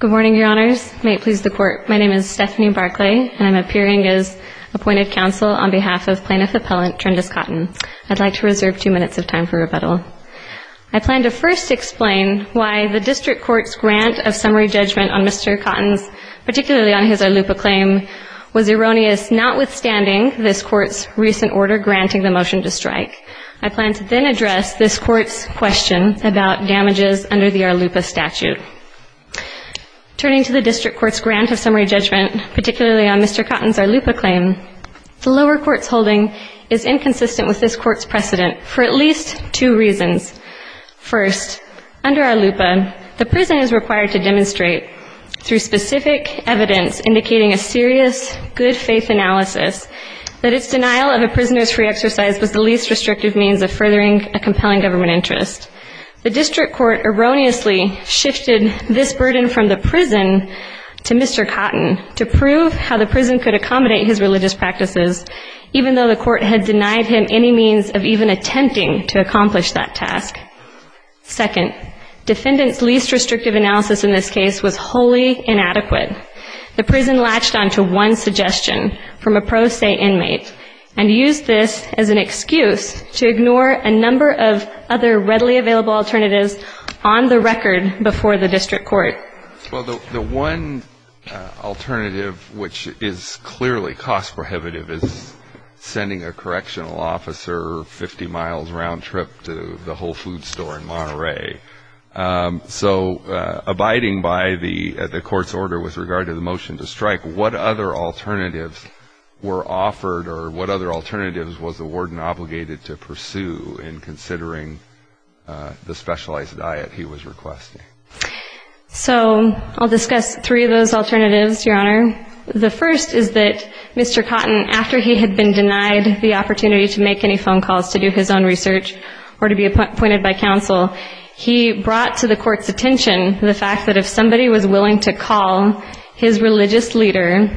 Good morning, Your Honors. May it please the Court, my name is Stephanie Barclay, and I'm appearing as appointed counsel on behalf of Plaintiff Appellant Treandous Cotton. I'd like to reserve two minutes of time for rebuttal. I plan to first explain why the District Court's grant of summary judgment on Mr. Cotton's, particularly on his Arlupa claim, was erroneous notwithstanding this Court's recent order granting the motion to strike. I plan to then address this Court's question about damages under the Arlupa statute. Turning to the District Court's grant of summary judgment, particularly on Mr. Cotton's Arlupa claim, the lower court's holding is inconsistent with this Court's precedent for at least two reasons. First, under Arlupa, the prison is required to demonstrate, through specific evidence indicating a serious good-faith analysis, that its denial of a prisoner's free exercise was the least restrictive means of furthering a compelling government interest. The District Court erroneously shifted this burden from the prison to Mr. Cotton to prove how the prison could accommodate his religious practices, even though the court had denied him any means of even attempting to accomplish that task. Second, defendant's least restrictive analysis in this case was wholly inadequate. The prison latched on to one suggestion from a pro se inmate and used this as an excuse to ignore a number of other readily available alternatives on the record before the District Court. Well, the one alternative which is clearly cost prohibitive is sending a correctional officer 50 miles round trip to the Whole Foods store in Monterey. So abiding by the Court's order with regard to the motion to strike, what other alternatives were offered or what other alternatives was the warden obligated to pursue in considering the specialized diet he was requesting? So I'll discuss three of those alternatives, Your Honor. The first is that Mr. Cotton, after he had been denied the opportunity to make any phone calls to do his own research or to be appointed by counsel, he brought to the Court's attention the fact that if somebody was willing to call his religious leader,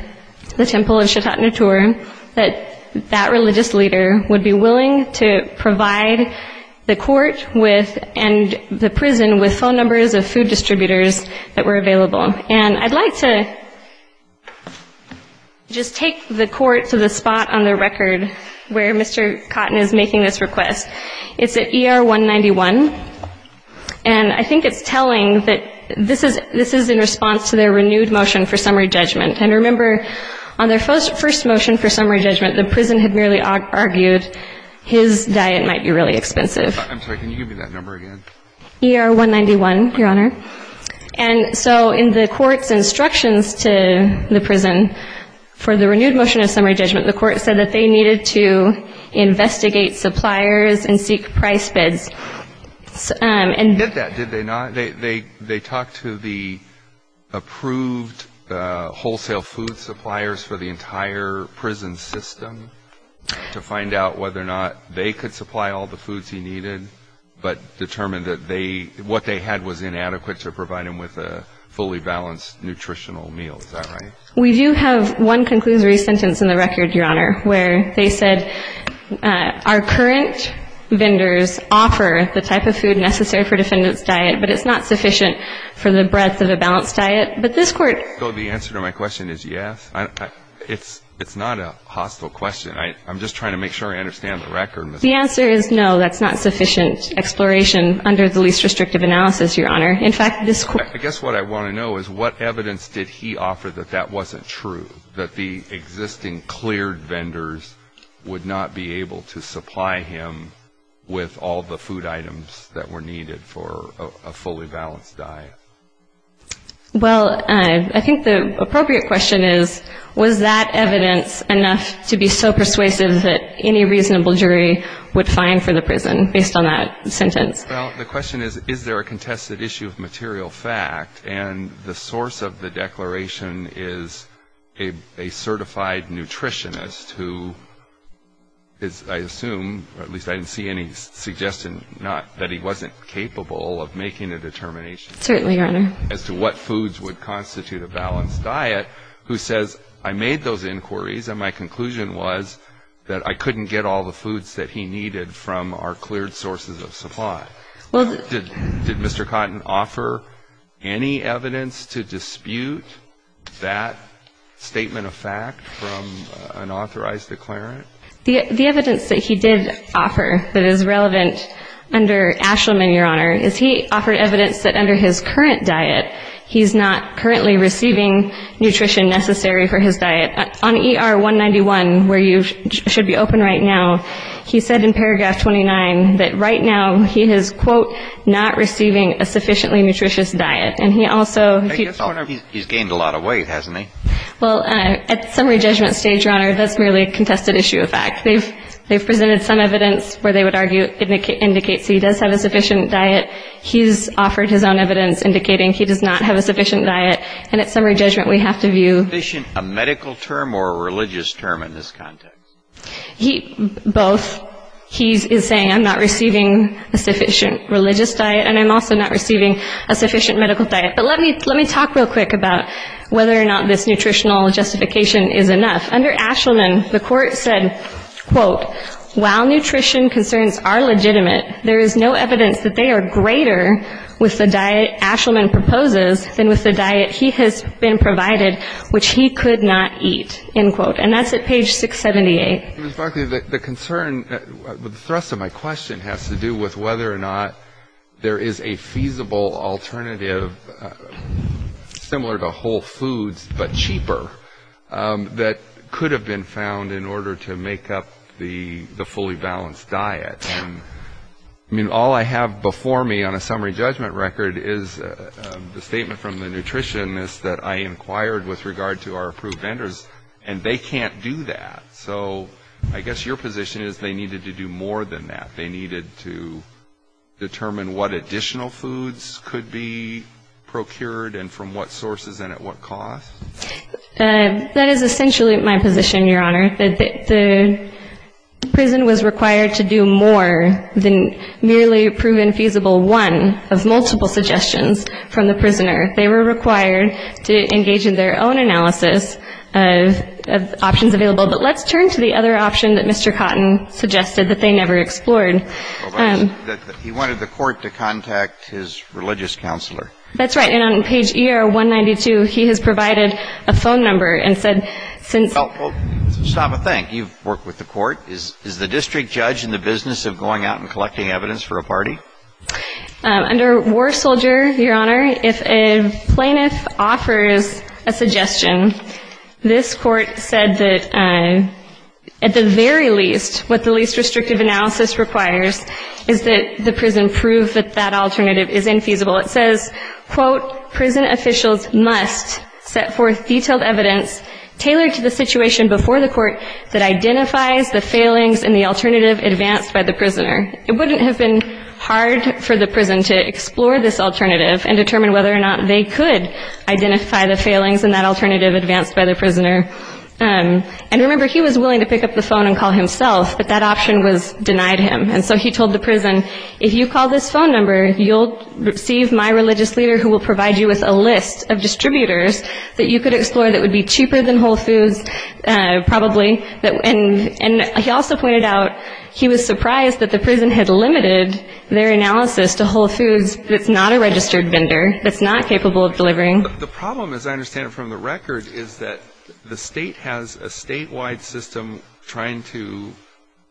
the Temple of Shatot Natur, that that religious leader would be willing to provide the court with and the prison with phone numbers of 50 people. So he brought to the Court's attention that if somebody was willing to call his religious leader, the Temple of Shatot Natur, that that religious leader would be willing to provide the court with and the prison with phone numbers of 50 people. And so in the Court's instructions to the prison for the renewed motion of summary judgment, the Court said that they needed to investigate suppliers and seek price bids. They did that, did they not? They talked to the approved wholesale food suppliers for the entire prison system to find out whether or not they could supply all the foods he needed, but determined that what they had was inadequate to provide him with a fully balanced nutritional meal. Is that right? We do have one conclusory sentence in the record, Your Honor, where they said our current vendors offer the type of food necessary for defendant's diet, but it's not sufficient for the breadth of a balanced diet. But this Court So the answer to my question is yes. It's not a hostile question. I'm just trying to make sure I understand the record. The answer is no, that's not sufficient exploration under the least restrictive analysis, Your Honor. In fact, this Court I guess what I want to know is what evidence did he offer that that wasn't true, that the existing cleared vendors would not be able to supply him with all the food items that were needed for a fully balanced diet? Well, I think the appropriate question is, was that evidence enough to be so persuasive that any reasonable jury would fine for the prison based on that sentence? Well, the question is, is there a contested issue of material fact? And the source of the declaration is a certified nutritionist who is, I assume, or at least I didn't see any suggestion that he wasn't capable of making a determination as to what foods would constitute a balanced diet, who says, I made those inquiries and my conclusion was that I couldn't get all the foods that he needed from our cleared sources of supply. Did Mr. Cotton offer any evidence to dispute that statement of fact from an authorized declarant? The evidence that he did offer that is relevant under Ashelman, Your Honor, is he offered evidence that under his current diet, he's not currently receiving nutrition necessary for his diet. On ER 191, where you should be open right now, he said in paragraph 29 that right now he is, quote, not receiving a sufficiently nutritious diet. And he also He's gained a lot of weight, hasn't he? Well, at summary judgment stage, Your Honor, that's merely a contested issue of fact. They've presented some evidence where they would argue, indicate, so he does have a sufficient diet. He's offered his own evidence indicating he does not have a sufficient diet. And at summary judgment, we have to view A medical term or a religious term in this context? Both. He is saying I'm not receiving a sufficient religious diet, and I'm also not receiving a sufficient medical diet. But let me talk real quick about whether or not this nutritional justification is enough. Under Ashelman, the court said, quote, while nutrition concerns are legitimate, there is no evidence that they are greater with the diet Ashelman proposes than with the diet he has been provided, which he could not eat, end quote. And that's at page 678. Ms. Buckley, the concern, the thrust of my question has to do with whether or not there is a feasible alternative similar to whole foods but cheaper that could have been found in order to make up the fully balanced diet. I mean, all I have before me on a summary judgment record is the statement from the nutritionist that I inquired with regard to our approved vendors, and they can't do that. So I guess your position is they needed to do more than that. They needed to determine what additional foods could be procured and from what sources and at what cost? That is essentially my position, Your Honor. The prison was required to do more than merely prove infeasible one of multiple suggestions from the prisoner. They were required to engage in their own analysis of options available. But let's turn to the other option that Mr. Cotton suggested that they never explored. He wanted the court to contact his religious counselor. That's right. And on page ER192, he has provided a phone number and said since Well, stop a thing. You've worked with the court. Is the district judge in the business of going out and collecting evidence for a party? Under War Soldier, Your Honor, if a plaintiff offers a suggestion, this court said that at the very least, what the least restrictive analysis requires is that the prison prove that that alternative is infeasible. It says, quote, prison officials must set forth detailed evidence tailored to the situation before the court that identifies the failings in the alternative advanced by the prisoner. It wouldn't have been hard for the prison to explore this alternative and determine whether or not they could identify the failings in that alternative advanced by the prisoner. And remember, he was willing to pick up the phone and call himself, but that option was denied him. And so he told the prison, if you call this phone number, you'll receive my religious leader who will provide you with a list of distributors that you could explore that would be cheaper than Whole Foods. Probably. And he also pointed out he was surprised that the prison had limited their analysis to Whole Foods. It's not a registered vendor. It's not capable of delivering. The problem, as I understand it from the record, is that the state has a statewide system trying to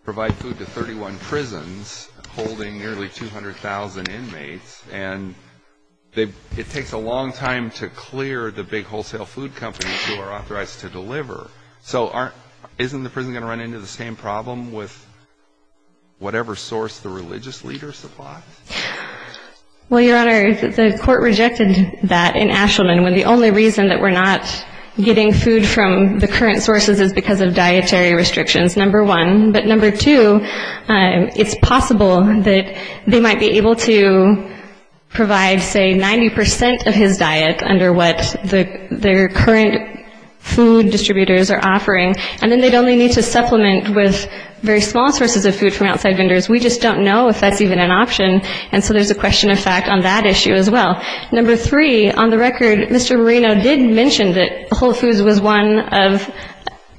provide food to 31 prisons holding nearly 200,000 inmates. And it takes a long time to clear the big wholesale food companies who are authorized to deliver. So isn't the prison going to run into the same problem with whatever source the religious leader supplies? Well, Your Honor, the court rejected that in Ashelman, when the only reason that we're not getting food from the current sources is because of dietary restrictions, number one. But number two, it's possible that they might be able to provide, say, 90% of his diet under what their current food distributors are offering, and then they'd only need to supplement with very small sources of food from outside vendors. We just don't know if that's even an option, and so there's a question of fact on that issue as well. Number three, on the record, Mr. Marino did mention that Whole Foods was one of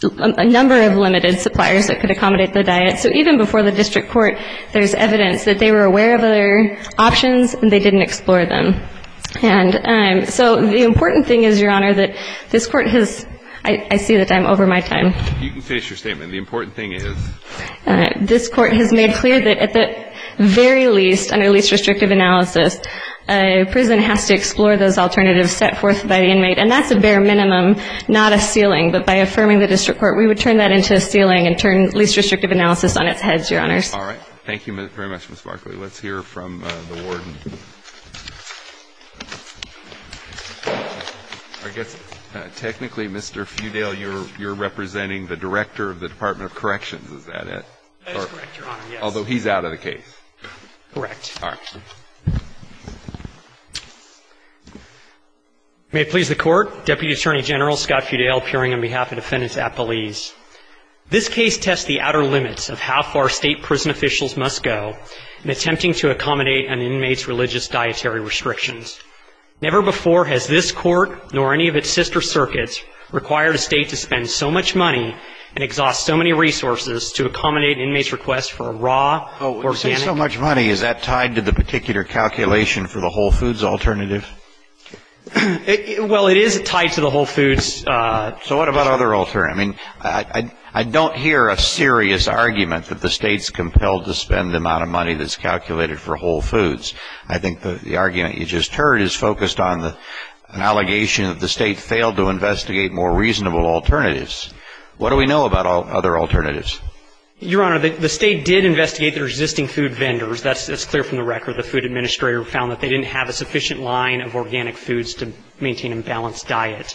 a number of limited suppliers that could accommodate the diet. So even before the district court, there's evidence that they were aware of other options, and they didn't explore them. And so the important thing is, Your Honor, that this court has ‑‑ I see that I'm over my time. You can finish your statement. The important thing is? This court has made clear that at the very least, under least restrictive analysis, a prison has to explore those alternatives set forth by the inmate. And that's a bare minimum, not a ceiling. But by affirming the district court, we would turn that into a ceiling and turn least restrictive analysis on its head, Your Honors. All right. Thank you very much, Ms. Barkley. Let's hear from the warden. I guess technically, Mr. Feudale, you're representing the director of the Department of Corrections. Is that it? That is correct, Your Honor, yes. Although he's out of the case. Correct. All right. May it please the Court, Deputy Attorney General Scott Feudale appearing on behalf of Defendants at Police. This case tests the outer limits of how far State prison officials must go in attempting to accommodate an inmate's religious dietary. Never before has this court, nor any of its sister circuits, required a State to spend so much money and exhaust so many resources to accommodate an inmate's request for a raw, organic. When you say so much money, is that tied to the particular calculation for the Whole Foods alternative? Well, it is tied to the Whole Foods. So what about other alternatives? I mean, I don't hear a serious argument that the State's compelled to spend the amount of money that's calculated for Whole Foods. I think the argument you just heard is focused on the allegation that the State failed to investigate more reasonable alternatives. What do we know about other alternatives? Your Honor, the State did investigate the resisting food vendors. That's clear from the record. The Food Administrator found that they didn't have a sufficient line of organic foods to maintain a balanced diet.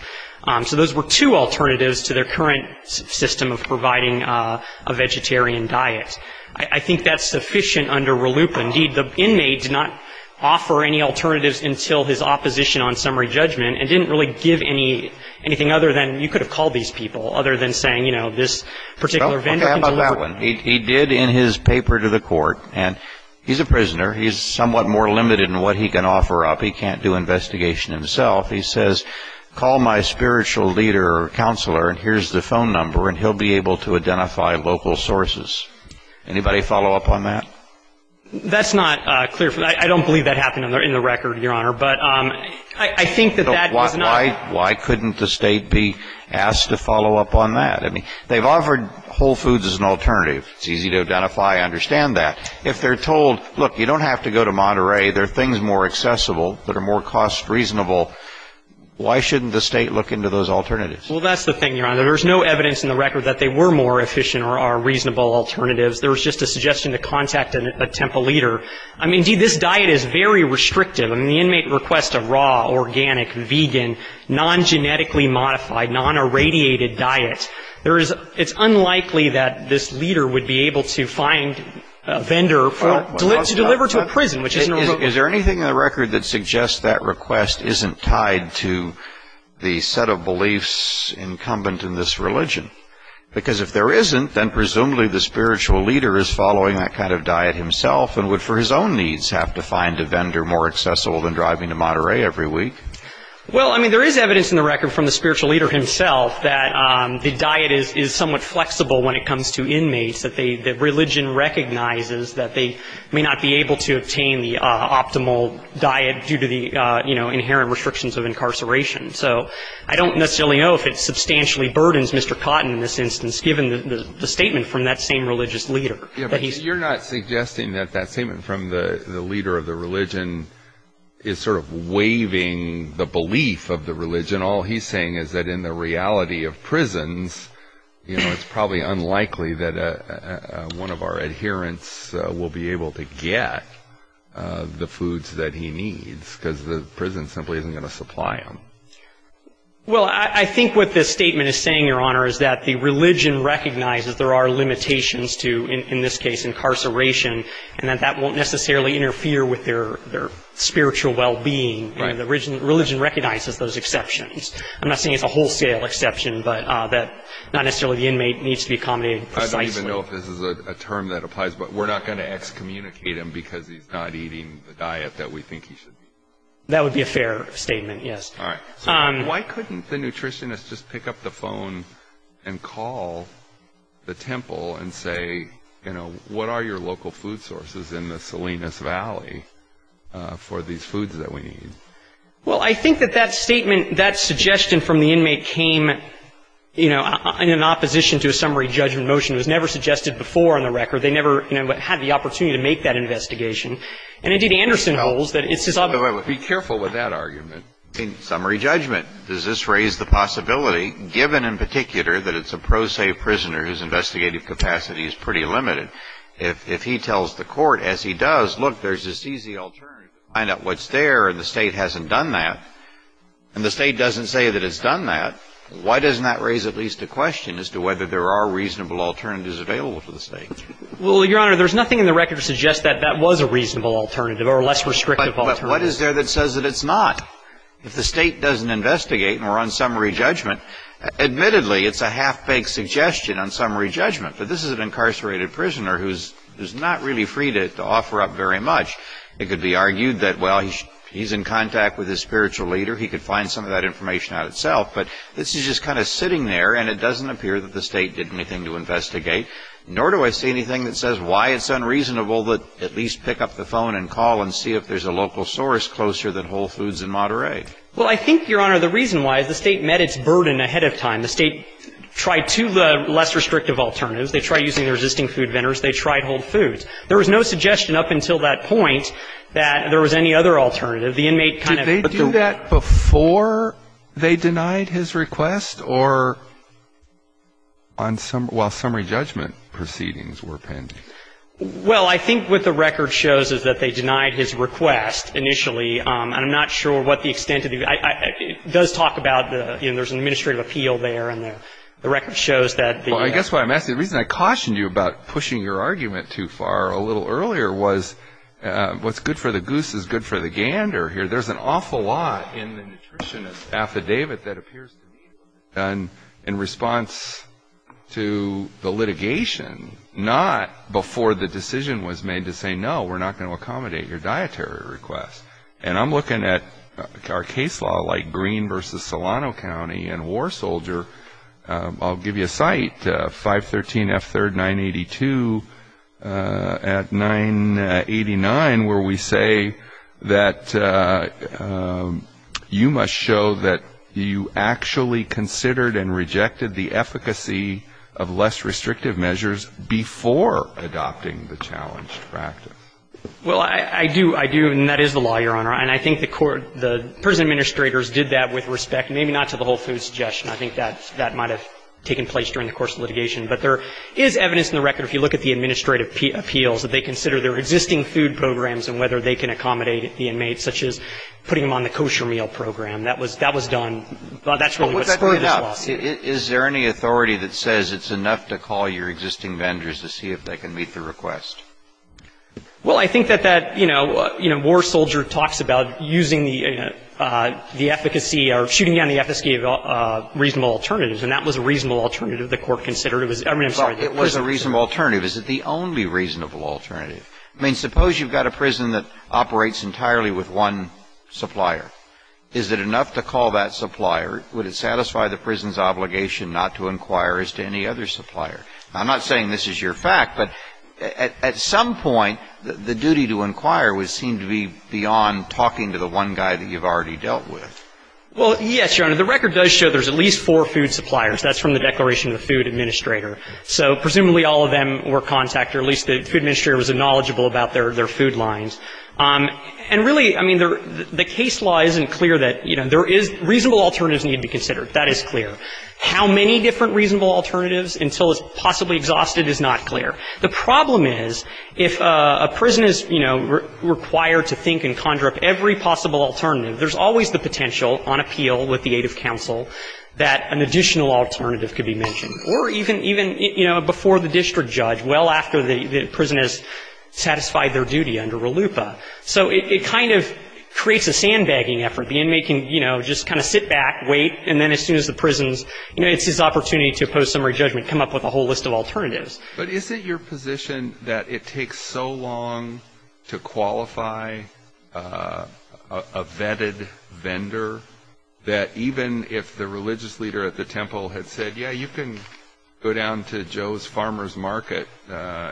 So those were two alternatives to their current system of providing a vegetarian diet. I think that's sufficient under RLUIPA. Indeed, the inmate did not offer any alternatives until his opposition on summary judgment, and didn't really give anything other than, you could have called these people, other than saying, you know, this particular vendor can deliver. Okay, how about that one? He did in his paper to the court, and he's a prisoner. He's somewhat more limited in what he can offer up. He can't do investigation himself. He says, call my spiritual leader or counselor, and here's the phone number, and he'll be able to identify local sources. Anybody follow up on that? That's not clear. I don't believe that happened in the record, Your Honor. But I think that that is not why. Why couldn't the State be asked to follow up on that? I mean, they've offered Whole Foods as an alternative. It's easy to identify and understand that. If they're told, look, you don't have to go to Monterey. There are things more accessible that are more cost reasonable. Why shouldn't the State look into those alternatives? Well, that's the thing, Your Honor. There's no evidence in the record that they were more efficient or are reasonable alternatives. There was just a suggestion to contact a temple leader. Indeed, this diet is very restrictive. I mean, the inmate requests a raw, organic, vegan, non-genetically modified, non-irradiated diet. It's unlikely that this leader would be able to find a vendor to deliver to a prison, which isn't a real problem. Is there anything in the record that suggests that request isn't tied to the set of beliefs incumbent in this religion? Because if there isn't, then presumably the spiritual leader is following that kind of diet himself and would, for his own needs, have to find a vendor more accessible than driving to Monterey every week. Well, I mean, there is evidence in the record from the spiritual leader himself that the diet is somewhat flexible when it comes to inmates, that religion recognizes that they may not be able to obtain the optimal diet due to the, you know, inherent restrictions of incarceration. So I don't necessarily know if it substantially burdens Mr. Cotton in this instance, given the statement from that same religious leader. Yeah, but you're not suggesting that that statement from the leader of the religion is sort of waiving the belief of the religion. All he's saying is that in the reality of prisons, you know, it's probably unlikely that one of our adherents will be able to get the foods that he needs because the prison simply isn't going to supply them. Well, I think what this statement is saying, Your Honor, is that the religion recognizes there are limitations to, in this case, incarceration, and that that won't necessarily interfere with their spiritual well-being. Right. And the religion recognizes those exceptions. I'm not saying it's a wholesale exception, but that not necessarily the inmate needs to be accommodated precisely. I don't even know if this is a term that applies, but we're not going to excommunicate him because he's not eating the diet that we think he should be eating. That would be a fair statement, yes. All right. Why couldn't the nutritionist just pick up the phone and call the temple and say, you know, what are your local food sources in the Salinas Valley for these foods that we need? Well, I think that that statement, that suggestion from the inmate came, you know, in opposition to a summary judgment motion. It was never suggested before on the record. They never, you know, had the opportunity to make that investigation. And, indeed, Anderson holds that it's his obligation. Be careful with that argument. In summary judgment, does this raise the possibility, given in particular that it's a pro se prisoner whose investigative capacity is pretty limited, if he tells the court, as he does, look, there's this easy alternative, find out what's there, and the State hasn't done that, and the State doesn't say that it's done that, why doesn't that raise at least a question as to whether there are reasonable alternatives available to the State? Well, Your Honor, there's nothing in the record to suggest that that was a reasonable alternative or a less restrictive alternative. But what is there that says that it's not? If the State doesn't investigate and we're on summary judgment, admittedly, it's a half-baked suggestion on summary judgment. But this is an incarcerated prisoner who's not really free to offer up very much. It could be argued that, well, he's in contact with his spiritual leader. He could find some of that information out itself. But this is just kind of sitting there, and it doesn't appear that the State did anything to investigate, nor do I see anything that says why it's unreasonable that at least pick up the phone and call and see if there's a local source closer than Whole Foods and Monterey. Well, I think, Your Honor, the reason why is the State met its burden ahead of time. The State tried two less restrictive alternatives. They tried using the resisting food vendors. They tried Whole Foods. There was no suggestion up until that point that there was any other alternative. The inmate kind of put the ---- Well, I think what the record shows is that they denied his request initially, and I'm not sure what the extent of the ---- It does talk about the, you know, there's an administrative appeal there, and the record shows that the ---- Well, I guess what I'm asking, the reason I cautioned you about pushing your argument too far a little earlier was what's good for the goose is good for the gander here. There's an awful lot in the nutritionist affidavit that appears to be a good idea. And in response to the litigation, not before the decision was made to say, no, we're not going to accommodate your dietary request. And I'm looking at our case law like Green v. Solano County and War Soldier. I'll give you a site, 513 F. 3rd, 982, at 989, where we say that you must show that you actually considered and rejected the efficacy of less restrictive measures before adopting the challenge practice. Well, I do. I do, and that is the law, Your Honor. And I think the court, the prison administrators did that with respect, maybe not to the whole food suggestion. I think that might have taken place during the course of litigation. But there is evidence in the record, if you look at the administrative appeals, that they consider their existing food programs and whether they can accommodate the inmates, such as putting them on the kosher meal program. That was done. But that's really what's in this lawsuit. Is there any authority that says it's enough to call your existing vendors to see if they can meet the request? Well, I think that that, you know, War Soldier talks about using the efficacy or shooting down the efficacy of reasonable alternatives, and that was a reasonable alternative the court considered. I mean, I'm sorry. Well, it was a reasonable alternative. Is it the only reasonable alternative? I mean, suppose you've got a prison that operates entirely with one supplier. Is it enough to call that supplier? Would it satisfy the prison's obligation not to inquire as to any other supplier? I'm not saying this is your fact, but at some point, the duty to inquire would seem to be beyond talking to the one guy that you've already dealt with. Well, yes, Your Honor. The record does show there's at least four food suppliers. That's from the declaration of the food administrator. So presumably all of them were contacted, or at least the food administrator was knowledgeable about their food lines. And really, I mean, the case law isn't clear that, you know, there is reasonable alternatives need to be considered. That is clear. How many different reasonable alternatives until it's possibly exhausted is not clear. The problem is, if a prison is, you know, required to think and conjure up every possible alternative, there's always the potential on appeal with the aid of counsel that an additional alternative could be mentioned, or even, you know, before the district judge, well after the prison has satisfied their duty under RLUIPA. So it kind of creates a sandbagging effort. The inmate can, you know, just kind of sit back, wait, and then as soon as the prison's, you know, it's his opportunity to post summary judgment, come up with a whole list of alternatives. But is it your position that it takes so long to qualify a vetted vendor that even if the religious leader at the temple had said, yeah, you can go down to Joe's Farmer's Market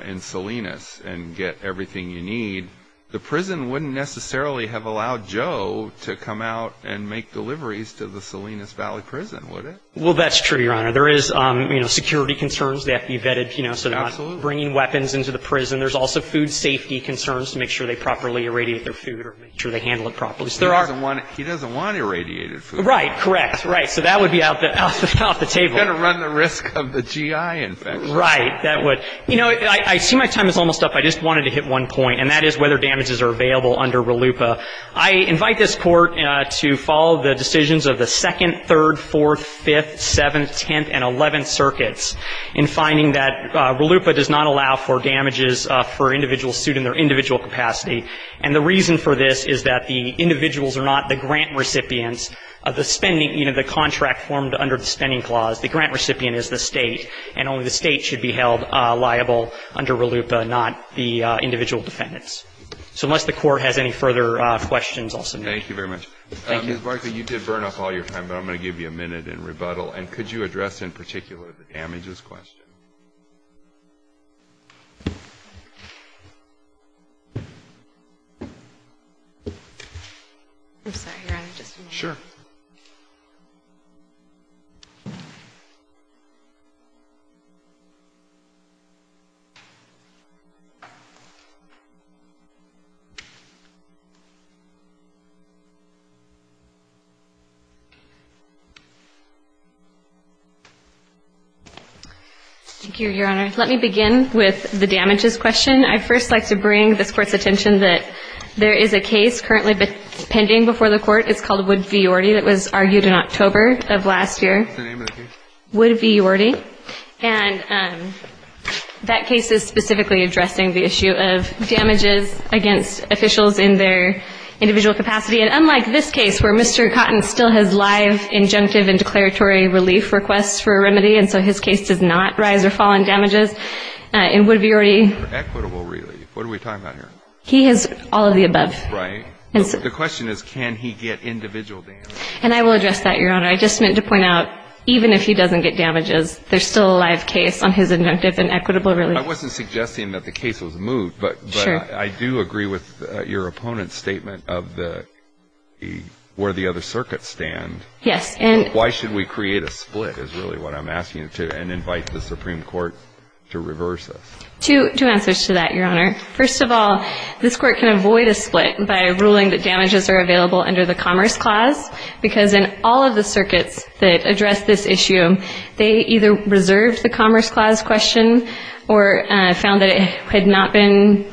in Salinas and get everything you need, the prison wouldn't necessarily have allowed Joe to come out and make deliveries to the Salinas Valley Prison, would it? Well, that's true, Your Honor. There is, you know, security concerns. They have to be vetted, you know, so they're not bringing weapons into the prison. There's also food safety concerns to make sure they properly irradiate their food or make sure they handle it properly. He doesn't want irradiated food. Right. Correct. Right. So that would be off the table. You've got to run the risk of the GI infection. Right. That would. You know, I see my time is almost up. I just wanted to hit one point, and that is whether damages are available under RLUIPA. I invite this Court to follow the decisions of the 2nd, 3rd, 4th, 5th, 7th, 10th, and 11th circuits in finding that RLUIPA does not allow for damages for individuals sued in their individual capacity, and the reason for this is that the individuals are not the grant recipients of the spending, you know, the contract formed under the spending clause. The grant recipient is the state, and only the state should be held liable under RLUIPA, not the individual defendants. So unless the Court has any further questions, I'll submit it. Thank you very much. Thank you. Ms. Barkley, you did burn up all your time, but I'm going to give you a minute in rebuttal, and could you address in particular the damages question? I'm sorry. Sure. Thank you, Your Honor. Let me begin with the damages question. I'd first like to bring this Court's attention that there is a case currently pending before the Court. It's called Wood v. Yorty that was argued in October of last year. What's the name of the case? Wood v. Yorty. And that case is specifically addressing the issue of damages against officials in their individual capacity. And unlike this case where Mr. Cotton still has live injunctive and declaratory relief requests for a remedy, and so his case does not rise or fall in damages, in Wood v. Yorty he has all of the above. Right. The question is can he get individual damages? And I will address that, Your Honor. I just meant to point out even if he doesn't get damages, there's still a live case on his injunctive and equitable relief. I wasn't suggesting that the case was moved, but I do agree with your opponent's statement of where the other circuits stand. Yes. Why should we create a split is really what I'm asking, and invite the Supreme Court to reverse this. Two answers to that, Your Honor. First of all, this Court can avoid a split by ruling that damages are available under the Commerce Clause, because in all of the circuits that address this issue, they either reserved the Commerce Clause question or found that it had not been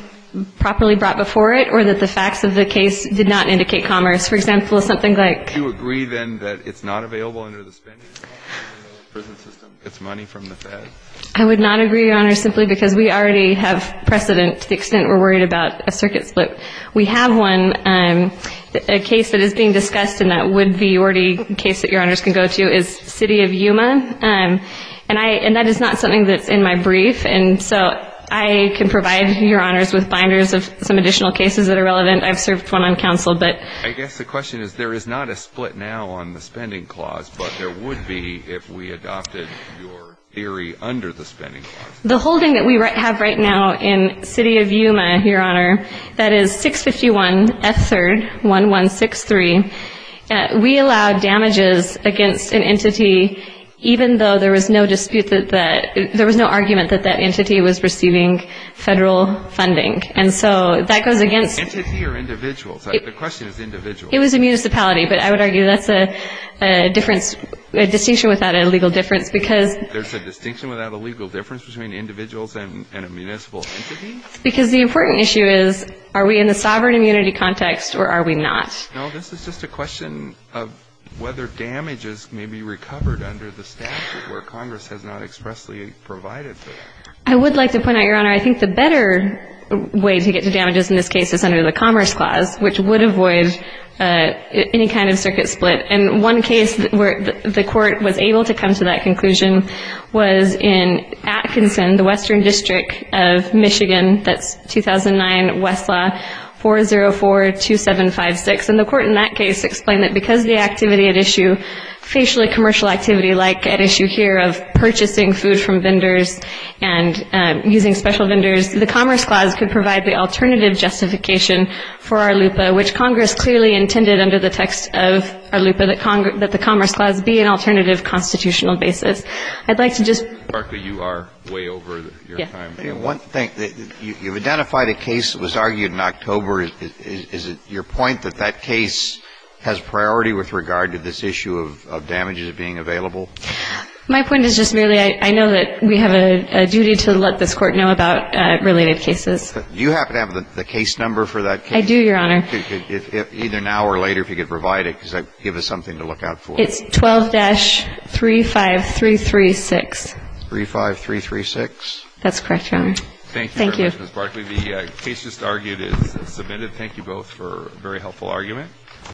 properly brought before it or that the facts of the case did not indicate commerce. For example, something like ---- Do you agree, then, that it's not available under the spending system, I would not agree, Your Honor, simply because we already have precedent to the extent we're worried about a circuit split. We have one case that is being discussed, and that would be already a case that Your Honors can go to, is City of Yuma. And that is not something that's in my brief, and so I can provide Your Honors with binders of some additional cases that are relevant. I've served one on counsel, but ---- I guess the question is there is not a split now on the spending clause, but there would be if we adopted your theory under the spending clause. The holding that we have right now in City of Yuma, Your Honor, that is 651 F3rd 1163. We allow damages against an entity even though there was no dispute that that ---- there was no argument that that entity was receiving federal funding. And so that goes against ---- Entity or individual? The question is individual. It was a municipality, but I would argue that's a difference ---- a distinction without a legal difference, because ---- There's a distinction without a legal difference between individuals and a municipal entity? Because the important issue is are we in the sovereign immunity context or are we not? No, this is just a question of whether damages may be recovered under the statute where Congress has not expressly provided for that. I would like to point out, Your Honor, I think the better way to get to damages in this case is under the Commerce Clause, which would avoid any kind of circuit split. And one case where the Court was able to come to that conclusion was in Atkinson, the Western District of Michigan. That's 2009 Westlaw 4042756. And the Court in that case explained that because the activity at issue, facially commercial activity like at issue here of purchasing food from vendors and using special vendors, the Commerce Clause could provide the alternative justification for ARLUPA, which Congress clearly intended under the text of ARLUPA that the Commerce Clause be an alternative constitutional basis. I'd like to just ---- Mr. Barkley, you are way over your time. Yes. One thing. You've identified a case that was argued in October. Is it your point that that case has priority with regard to this issue of damages being available? My point is just merely I know that we have a duty to let this Court know about related cases. Do you happen to have the case number for that case? I do, Your Honor. Either now or later if you could provide it because that would give us something to look out for. It's 12-35336. 35336? That's correct, Your Honor. Thank you. Thank you very much, Ms. Barkley. The case just argued is submitted. Thank you both for a very helpful argument.